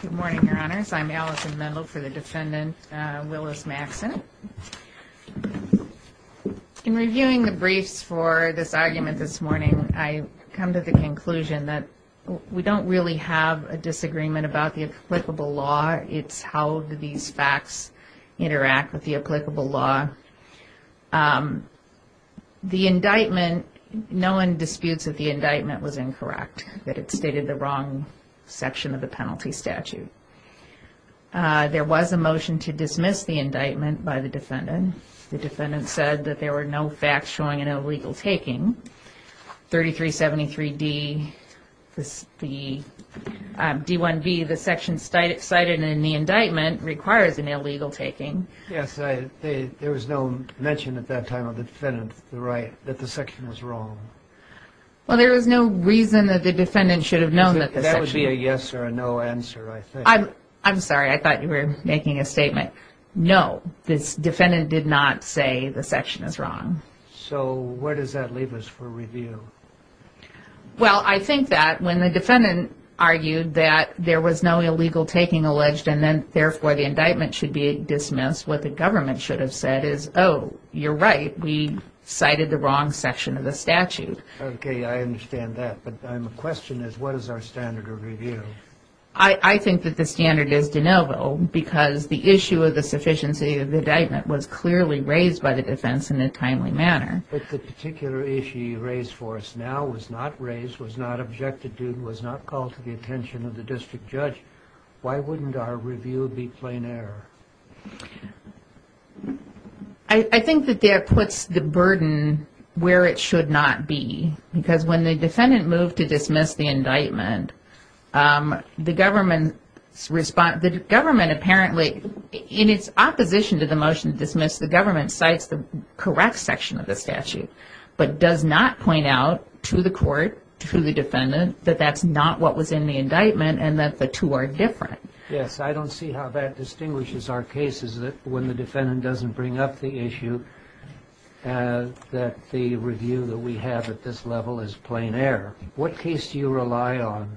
Good morning, your honors. I'm Allison Mendel for the defendant Willis Maxon. In reviewing the briefs for this argument this morning, I come to the conclusion that we don't really have a disagreement about the applicable law. It's how these facts interact with the applicable law. The indictment, no one disputes that the indictment was incorrect, that it stated the wrong section of the penalty statute. There was a motion to dismiss the indictment by the defendant. The defendant said that there were no facts showing an illegal taking. 3373D, D1B, the section cited in the indictment requires an illegal taking. Yes, there was no mention at that time of the defendant's right that the section was wrong. Well, there was no reason that the defendant should have known that the section was wrong. That would be a yes or a no answer, I think. I'm sorry, I thought you were making a statement. No, the defendant did not say the section is wrong. So where does that leave us for review? Well, I think that when the defendant argued that there was no illegal taking alleged and then, therefore, the indictment should be dismissed, what the government should have said is, oh, you're right, we cited the wrong section of the statute. Okay, I understand that, but my question is what is our standard of review? I think that the standard is de novo because the issue of the sufficiency of the indictment was clearly raised by the defense in a timely manner. But the particular issue you raised for us now was not raised, was not objected to, was not called to the attention of the district judge. Why wouldn't our review be plain error? I think that that puts the burden where it should not be because when the defendant moved to dismiss the indictment, the government apparently, in its opposition to the motion to dismiss, the government cites the correct section of the statute, but does not point out to the court, to the defendant, that that's not what was in the indictment and that the two are different. Yes, I don't see how that distinguishes our cases when the defendant doesn't bring up the issue that the review that we have at this level is plain error. What case do you rely on?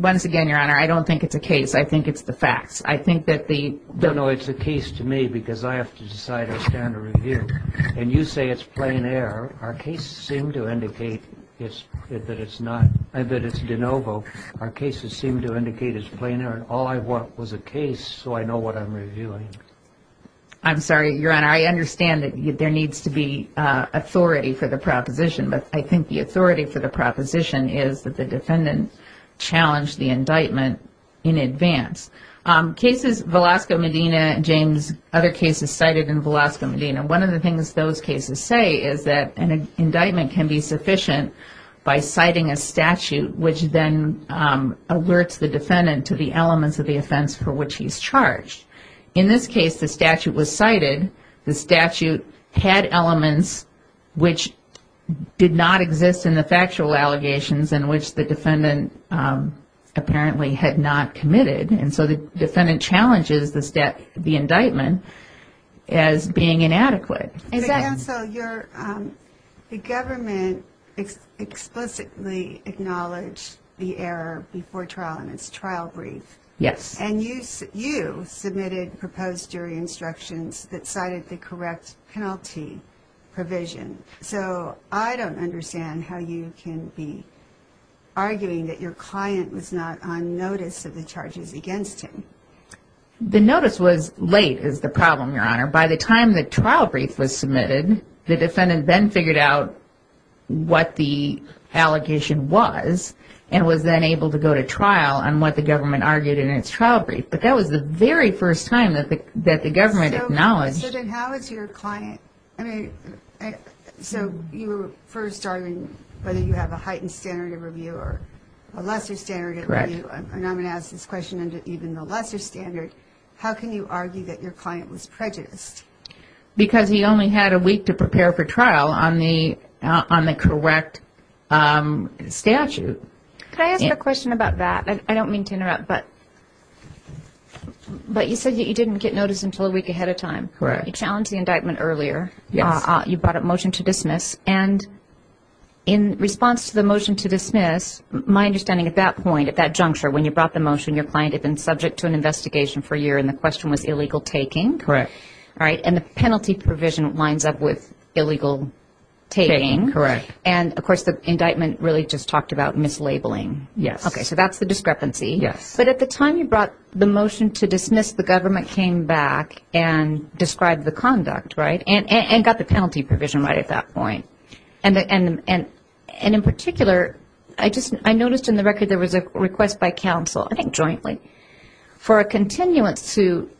Once again, Your Honor, I don't think it's a case. I think it's the facts. I think that the – No, no, it's a case to me because I have to decide our standard of review. And you say it's plain error. Our cases seem to indicate that it's de novo. Our cases seem to indicate it's plain error. All I want was a case so I know what I'm reviewing. I'm sorry, Your Honor. And I understand that there needs to be authority for the proposition, but I think the authority for the proposition is that the defendant challenged the indictment in advance. Cases – Velasco, Medina, James, other cases cited in Velasco, Medina, one of the things those cases say is that an indictment can be sufficient by citing a statute, which then alerts the defendant to the elements of the offense for which he's charged. In this case, the statute was cited. The statute had elements which did not exist in the factual allegations in which the defendant apparently had not committed. And so the defendant challenges the indictment as being inadequate. So, you're – the government explicitly acknowledged the error before trial in its trial brief. Yes. And you submitted proposed jury instructions that cited the correct penalty provision. So, I don't understand how you can be arguing that your client was not on notice of the charges against him. The notice was late is the problem, Your Honor. By the time the trial brief was submitted, the defendant then figured out what the allegation was and was then able to go to trial on what the government argued in its trial brief. But that was the very first time that the government acknowledged. So, then how is your client – I mean, so you were first arguing whether you have a heightened standard of review or a lesser standard of review. Correct. And I'm going to ask this question under even the lesser standard. How can you argue that your client was prejudiced? Because he only had a week to prepare for trial on the correct statute. Can I ask a question about that? I don't mean to interrupt, but you said that you didn't get notice until a week ahead of time. Correct. You challenged the indictment earlier. Yes. You brought up motion to dismiss. And in response to the motion to dismiss, my understanding at that point, at that juncture, when you brought the motion, your client had been subject to an investigation for a year and the question was illegal taking. Correct. All right, and the penalty provision lines up with illegal taking. Correct. And, of course, the indictment really just talked about mislabeling. Yes. Okay, so that's the discrepancy. Yes. But at the time you brought the motion to dismiss, the government came back and described the conduct, right, and got the penalty provision right at that point. And in particular, I noticed in the record there was a request by counsel, I think jointly, for a continuance to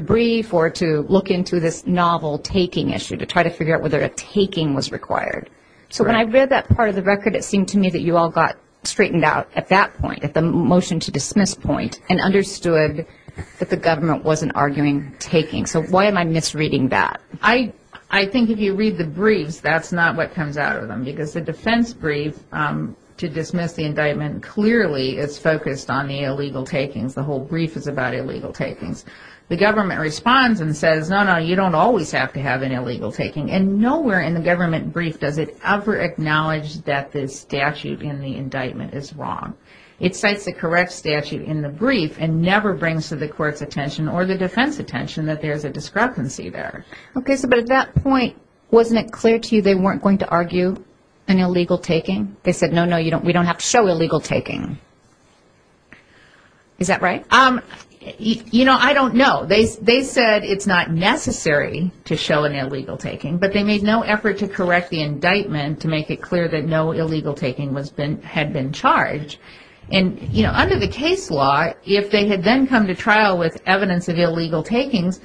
brief or to look into this novel taking issue, to try to figure out whether a taking was required. So when I read that part of the record, it seemed to me that you all got straightened out at that point, at the motion to dismiss point, and understood that the government wasn't arguing taking. So why am I misreading that? I think if you read the briefs, that's not what comes out of them, because the defense brief to dismiss the indictment clearly is focused on the illegal takings. The whole brief is about illegal takings. The government responds and says, no, no, you don't always have to have an illegal taking. And nowhere in the government brief does it ever acknowledge that the statute in the indictment is wrong. It cites the correct statute in the brief and never brings to the court's attention or the defense attention that there's a discrepancy there. Okay, but at that point, wasn't it clear to you they weren't going to argue an illegal taking? They said, no, no, we don't have to show illegal taking. Is that right? You know, I don't know. They said it's not necessary to show an illegal taking, but they made no effort to correct the indictment to make it clear that no illegal taking had been charged. And under the case law, if they had then come to trial with evidence of illegal takings,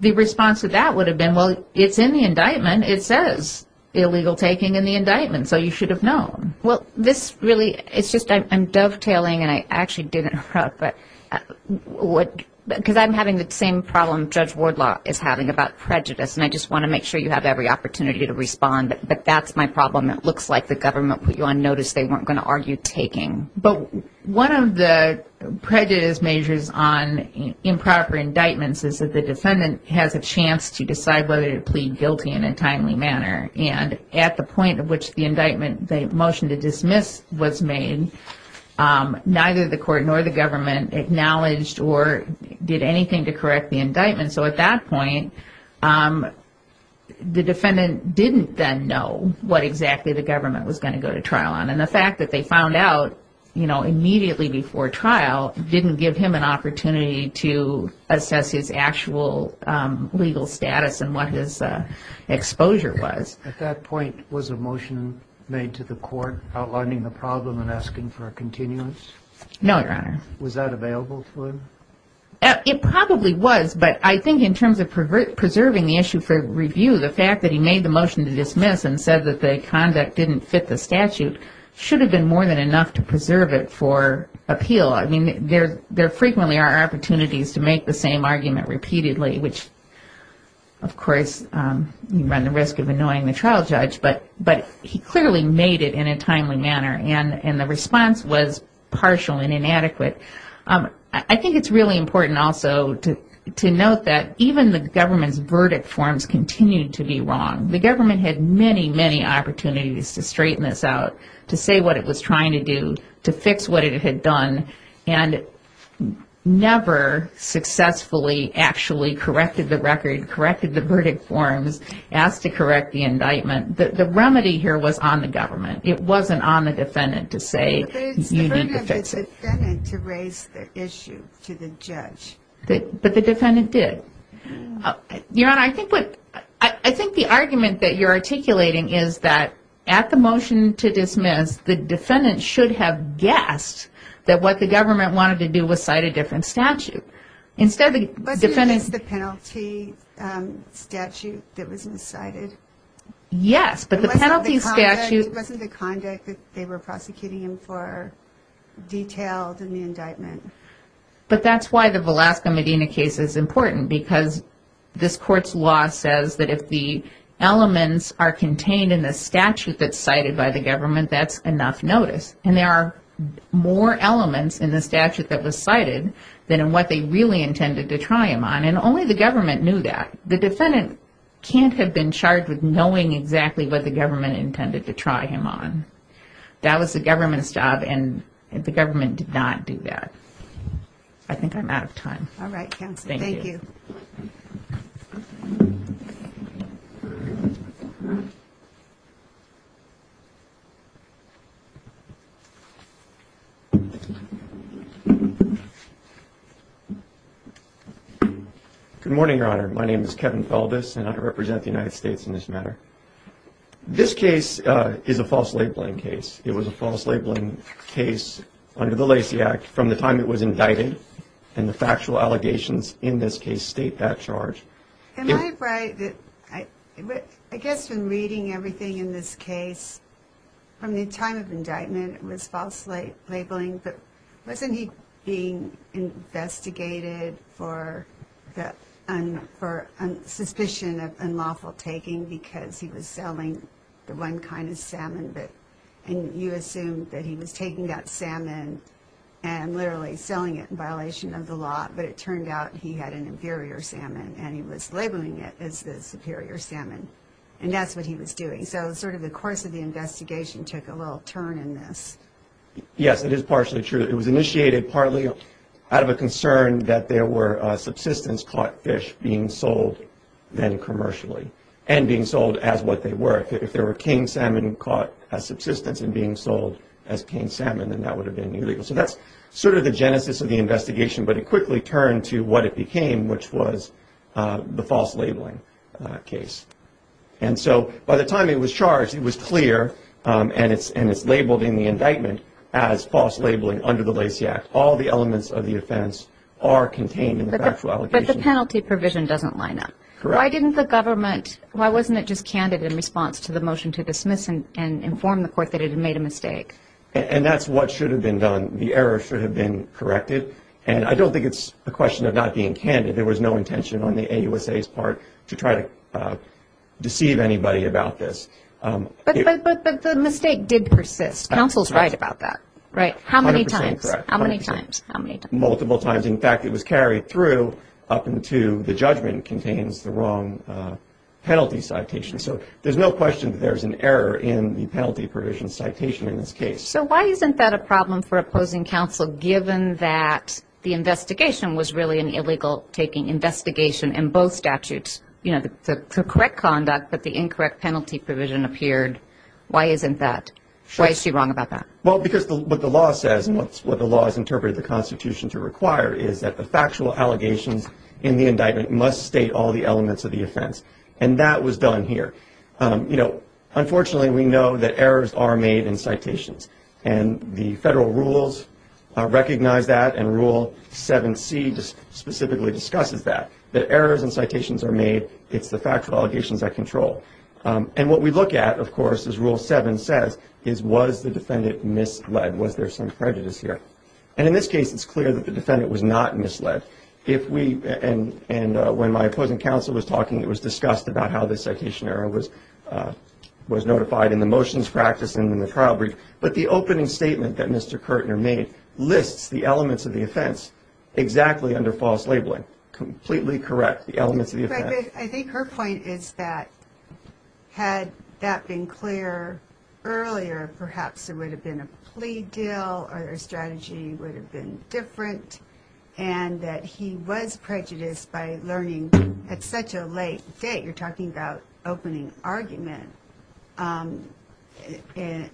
the response to that would have been, well, it's in the indictment. It says illegal taking in the indictment, so you should have known. Well, this really – it's just I'm dovetailing, and I actually didn't – because I'm having the same problem Judge Wardlaw is having about prejudice, and I just want to make sure you have every opportunity to respond. But that's my problem. It looks like the government put you on notice they weren't going to argue taking. But one of the prejudice measures on improper indictments is that the defendant has a chance to decide whether to plead guilty in a timely manner. And at the point at which the indictment, the motion to dismiss, was made, neither the court nor the government acknowledged or did anything to correct the indictment. So at that point, the defendant didn't then know what exactly the government was going to go to trial on. And the fact that they found out immediately before trial didn't give him an opportunity to assess his actual legal status and what his exposure was. At that point, was a motion made to the court outlining the problem and asking for a continuance? No, Your Honor. Was that available to him? It probably was, but I think in terms of preserving the issue for review, the fact that he made the motion to dismiss and said that the conduct didn't fit the statute should have been more than enough to preserve it for appeal. I mean, there frequently are opportunities to make the same argument repeatedly, which, of course, you run the risk of annoying the trial judge. But he clearly made it in a timely manner, and the response was partial and inadequate. I think it's really important also to note that even the government's verdict forms continued to be wrong. The government had many, many opportunities to straighten this out, to say what it was trying to do, to fix what it had done, and never successfully actually corrected the record, corrected the verdict forms, asked to correct the indictment. The remedy here was on the government. It wasn't on the defendant to say you need to fix it. It was on the defendant to raise the issue to the judge. But the defendant did. Your Honor, I think the argument that you're articulating is that at the motion to dismiss, the defendant should have guessed that what the government wanted to do was cite a different statute. Wasn't it the penalty statute that was cited? Yes, but the penalty statute... But that's why the Velasco Medina case is important, because this Court's law says that if the elements are contained in the statute that's cited by the government, that's enough notice. And there are more elements in the statute that was cited than in what they really intended to try him on, and only the government knew that. The defendant can't have been charged with knowing exactly what the government intended to try him on. That was the government's job, and the government did not do that. I think I'm out of time. All right, Counsel. Thank you. Good morning, Your Honor. My name is Kevin Feldes, and I represent the United States in this matter. This case is a false labeling case. It was a false labeling case under the Lacey Act from the time it was indicted, and the factual allegations in this case state that charge. Am I right that I guess in reading everything in this case, from the time of indictment it was false labeling, but wasn't he being investigated for suspicion of unlawful taking because he was selling the one kind of salmon, and you assumed that he was taking that salmon and literally selling it in violation of the law, but it turned out he had an inferior salmon and he was labeling it as the superior salmon, and that's what he was doing. So sort of the course of the investigation took a little turn in this. Yes, it is partially true. It was initiated partly out of a concern that there were subsistence-caught fish being sold then commercially, and being sold as what they were. If there were caned salmon caught as subsistence and being sold as caned salmon, then that would have been illegal. So that's sort of the genesis of the investigation, but it quickly turned to what it became, which was the false labeling case. And so by the time it was charged, it was clear, and it's labeled in the indictment as false labeling under the Lacey Act. All the elements of the offense are contained in the factual allegations. But the penalty provision doesn't line up. Correct. Why didn't the government, why wasn't it just candid in response to the motion to dismiss and inform the court that it had made a mistake? And that's what should have been done. The error should have been corrected. And I don't think it's a question of not being candid. There was no intention on the AUSA's part to try to deceive anybody about this. But the mistake did persist. Counsel's right about that, right? 100% correct. How many times? Multiple times. In fact, it was carried through up until the judgment contains the wrong penalty citation. So there's no question that there's an error in the penalty provision citation in this case. So why isn't that a problem for opposing counsel, given that the investigation was really an illegal taking investigation in both statutes? You know, the correct conduct, but the incorrect penalty provision appeared. Why isn't that? Why is she wrong about that? Well, because what the law says and what the law has interpreted the Constitution to require is that the factual allegations in the indictment must state all the elements of the offense. And that was done here. You know, unfortunately, we know that errors are made in citations. And the federal rules recognize that, and Rule 7C specifically discusses that, that errors in citations are made, it's the factual allegations that control. And what we look at, of course, as Rule 7 says, is was the defendant misled? Was there some prejudice here? And in this case, it's clear that the defendant was not misled. And when my opposing counsel was talking, it was discussed about how the citation error was notified in the motions practice and in the trial brief. But the opening statement that Mr. Kirtner made lists the elements of the offense exactly under false labeling, completely correct, the elements of the offense. I think her point is that had that been clear earlier, perhaps there would have been a plea deal or their strategy would have been different, and that he was prejudiced by learning at such a late date, you're talking about opening argument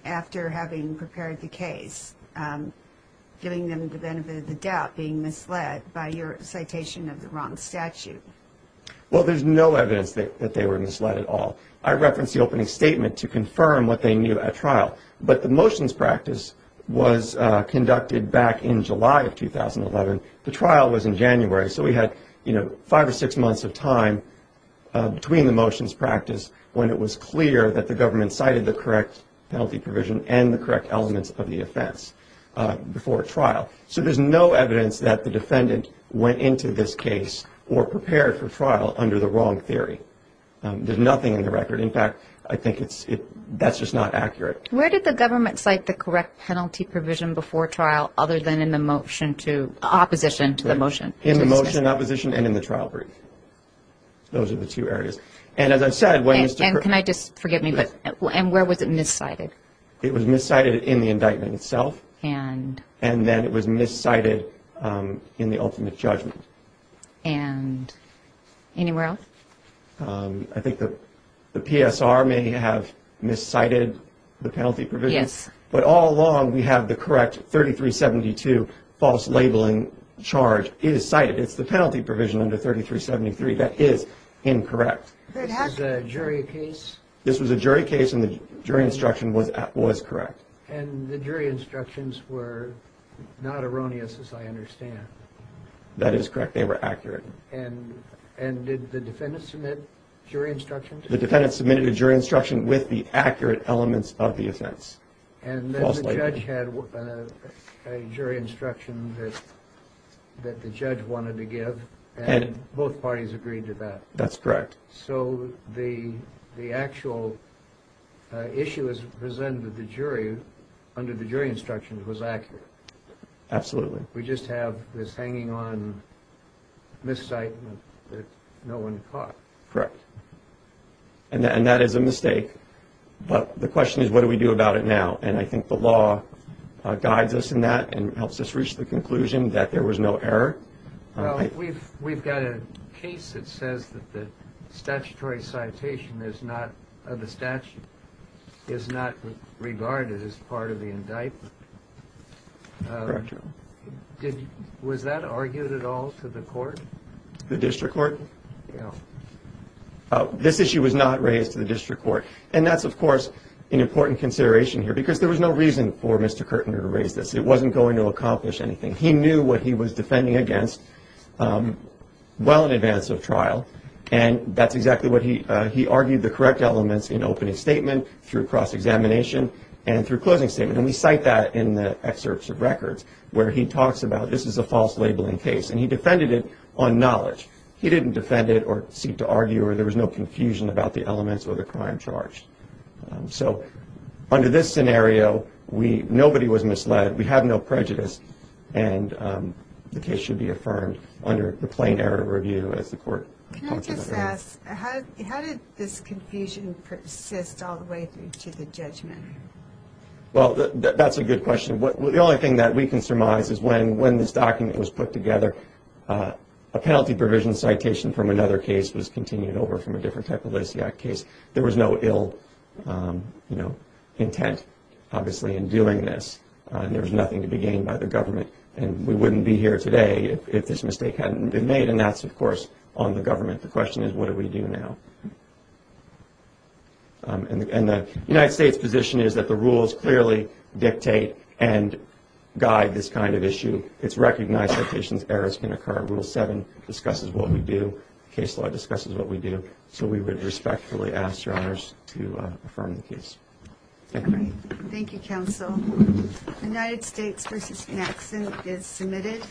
after having prepared the case, giving them the benefit of the doubt, being misled by your citation of the wrong statute. Well, there's no evidence that they were misled at all. I referenced the opening statement to confirm what they knew at trial. But the motions practice was conducted back in July of 2011. The trial was in January, so we had, you know, five or six months of time between the motions practice when it was clear that the government cited the correct penalty provision and the correct elements of the offense before trial. So there's no evidence that the defendant went into this case or prepared for trial under the wrong theory. There's nothing in the record. In fact, I think that's just not accurate. Where did the government cite the correct penalty provision before trial, other than in the motion to opposition to the motion? In the motion to opposition and in the trial brief. Those are the two areas. And as I said, when Mr. And can I just, forgive me, but where was it miscited? It was miscited in the indictment itself. And? And then it was miscited in the ultimate judgment. And anywhere else? I think the PSR may have miscited the penalty provision. Yes. But all along, we have the correct 3372 false labeling charge is cited. It's the penalty provision under 3373. That is incorrect. This is a jury case? This was a jury case, and the jury instruction was correct. And the jury instructions were not erroneous, as I understand. That is correct. They were accurate. And did the defendant submit jury instructions? The defendant submitted a jury instruction with the accurate elements of the offense. And then the judge had a jury instruction that the judge wanted to give. And both parties agreed to that. That's correct. So the actual issue as presented to the jury under the jury instructions was accurate. Absolutely. We just have this hanging on miscitement that no one caught. Correct. And that is a mistake. But the question is, what do we do about it now? And I think the law guides us in that and helps us reach the conclusion that there was no error. Well, we've got a case that says that the statutory citation is not regarded as part of the indictment. Correct. Was that argued at all to the court? The district court? Yes. This issue was not raised to the district court. And that's, of course, an important consideration here because there was no reason for Mr. Kirtner to raise this. It wasn't going to accomplish anything. He knew what he was defending against well in advance of trial. And that's exactly what he argued, the correct elements in opening statement, through cross-examination, and through closing statement. And we cite that in the excerpts of records where he talks about this is a false labeling case. And he defended it on knowledge. He didn't defend it or seek to argue, or there was no confusion about the elements or the crime charged. So under this scenario, nobody was misled. We have no prejudice, and the case should be affirmed under the plain error review as the court pointed out. Can I just ask, how did this confusion persist all the way through to the judgment? Well, that's a good question. The only thing that we can surmise is when this document was put together, a penalty provision citation from another case was continued over from a different type of Lisiak case. There was no ill intent, obviously, in doing this, and there was nothing to be gained by the government. And we wouldn't be here today if this mistake hadn't been made, and that's, of course, on the government. The question is, what do we do now? And the United States' position is that the rules clearly dictate and guide this kind of issue. It's recognized that patient's errors can occur. Rule 7 discusses what we do. Case law discusses what we do. So we would respectfully ask Your Honors to affirm the case. Thank you. Thank you, counsel. United States v. Jackson is submitted.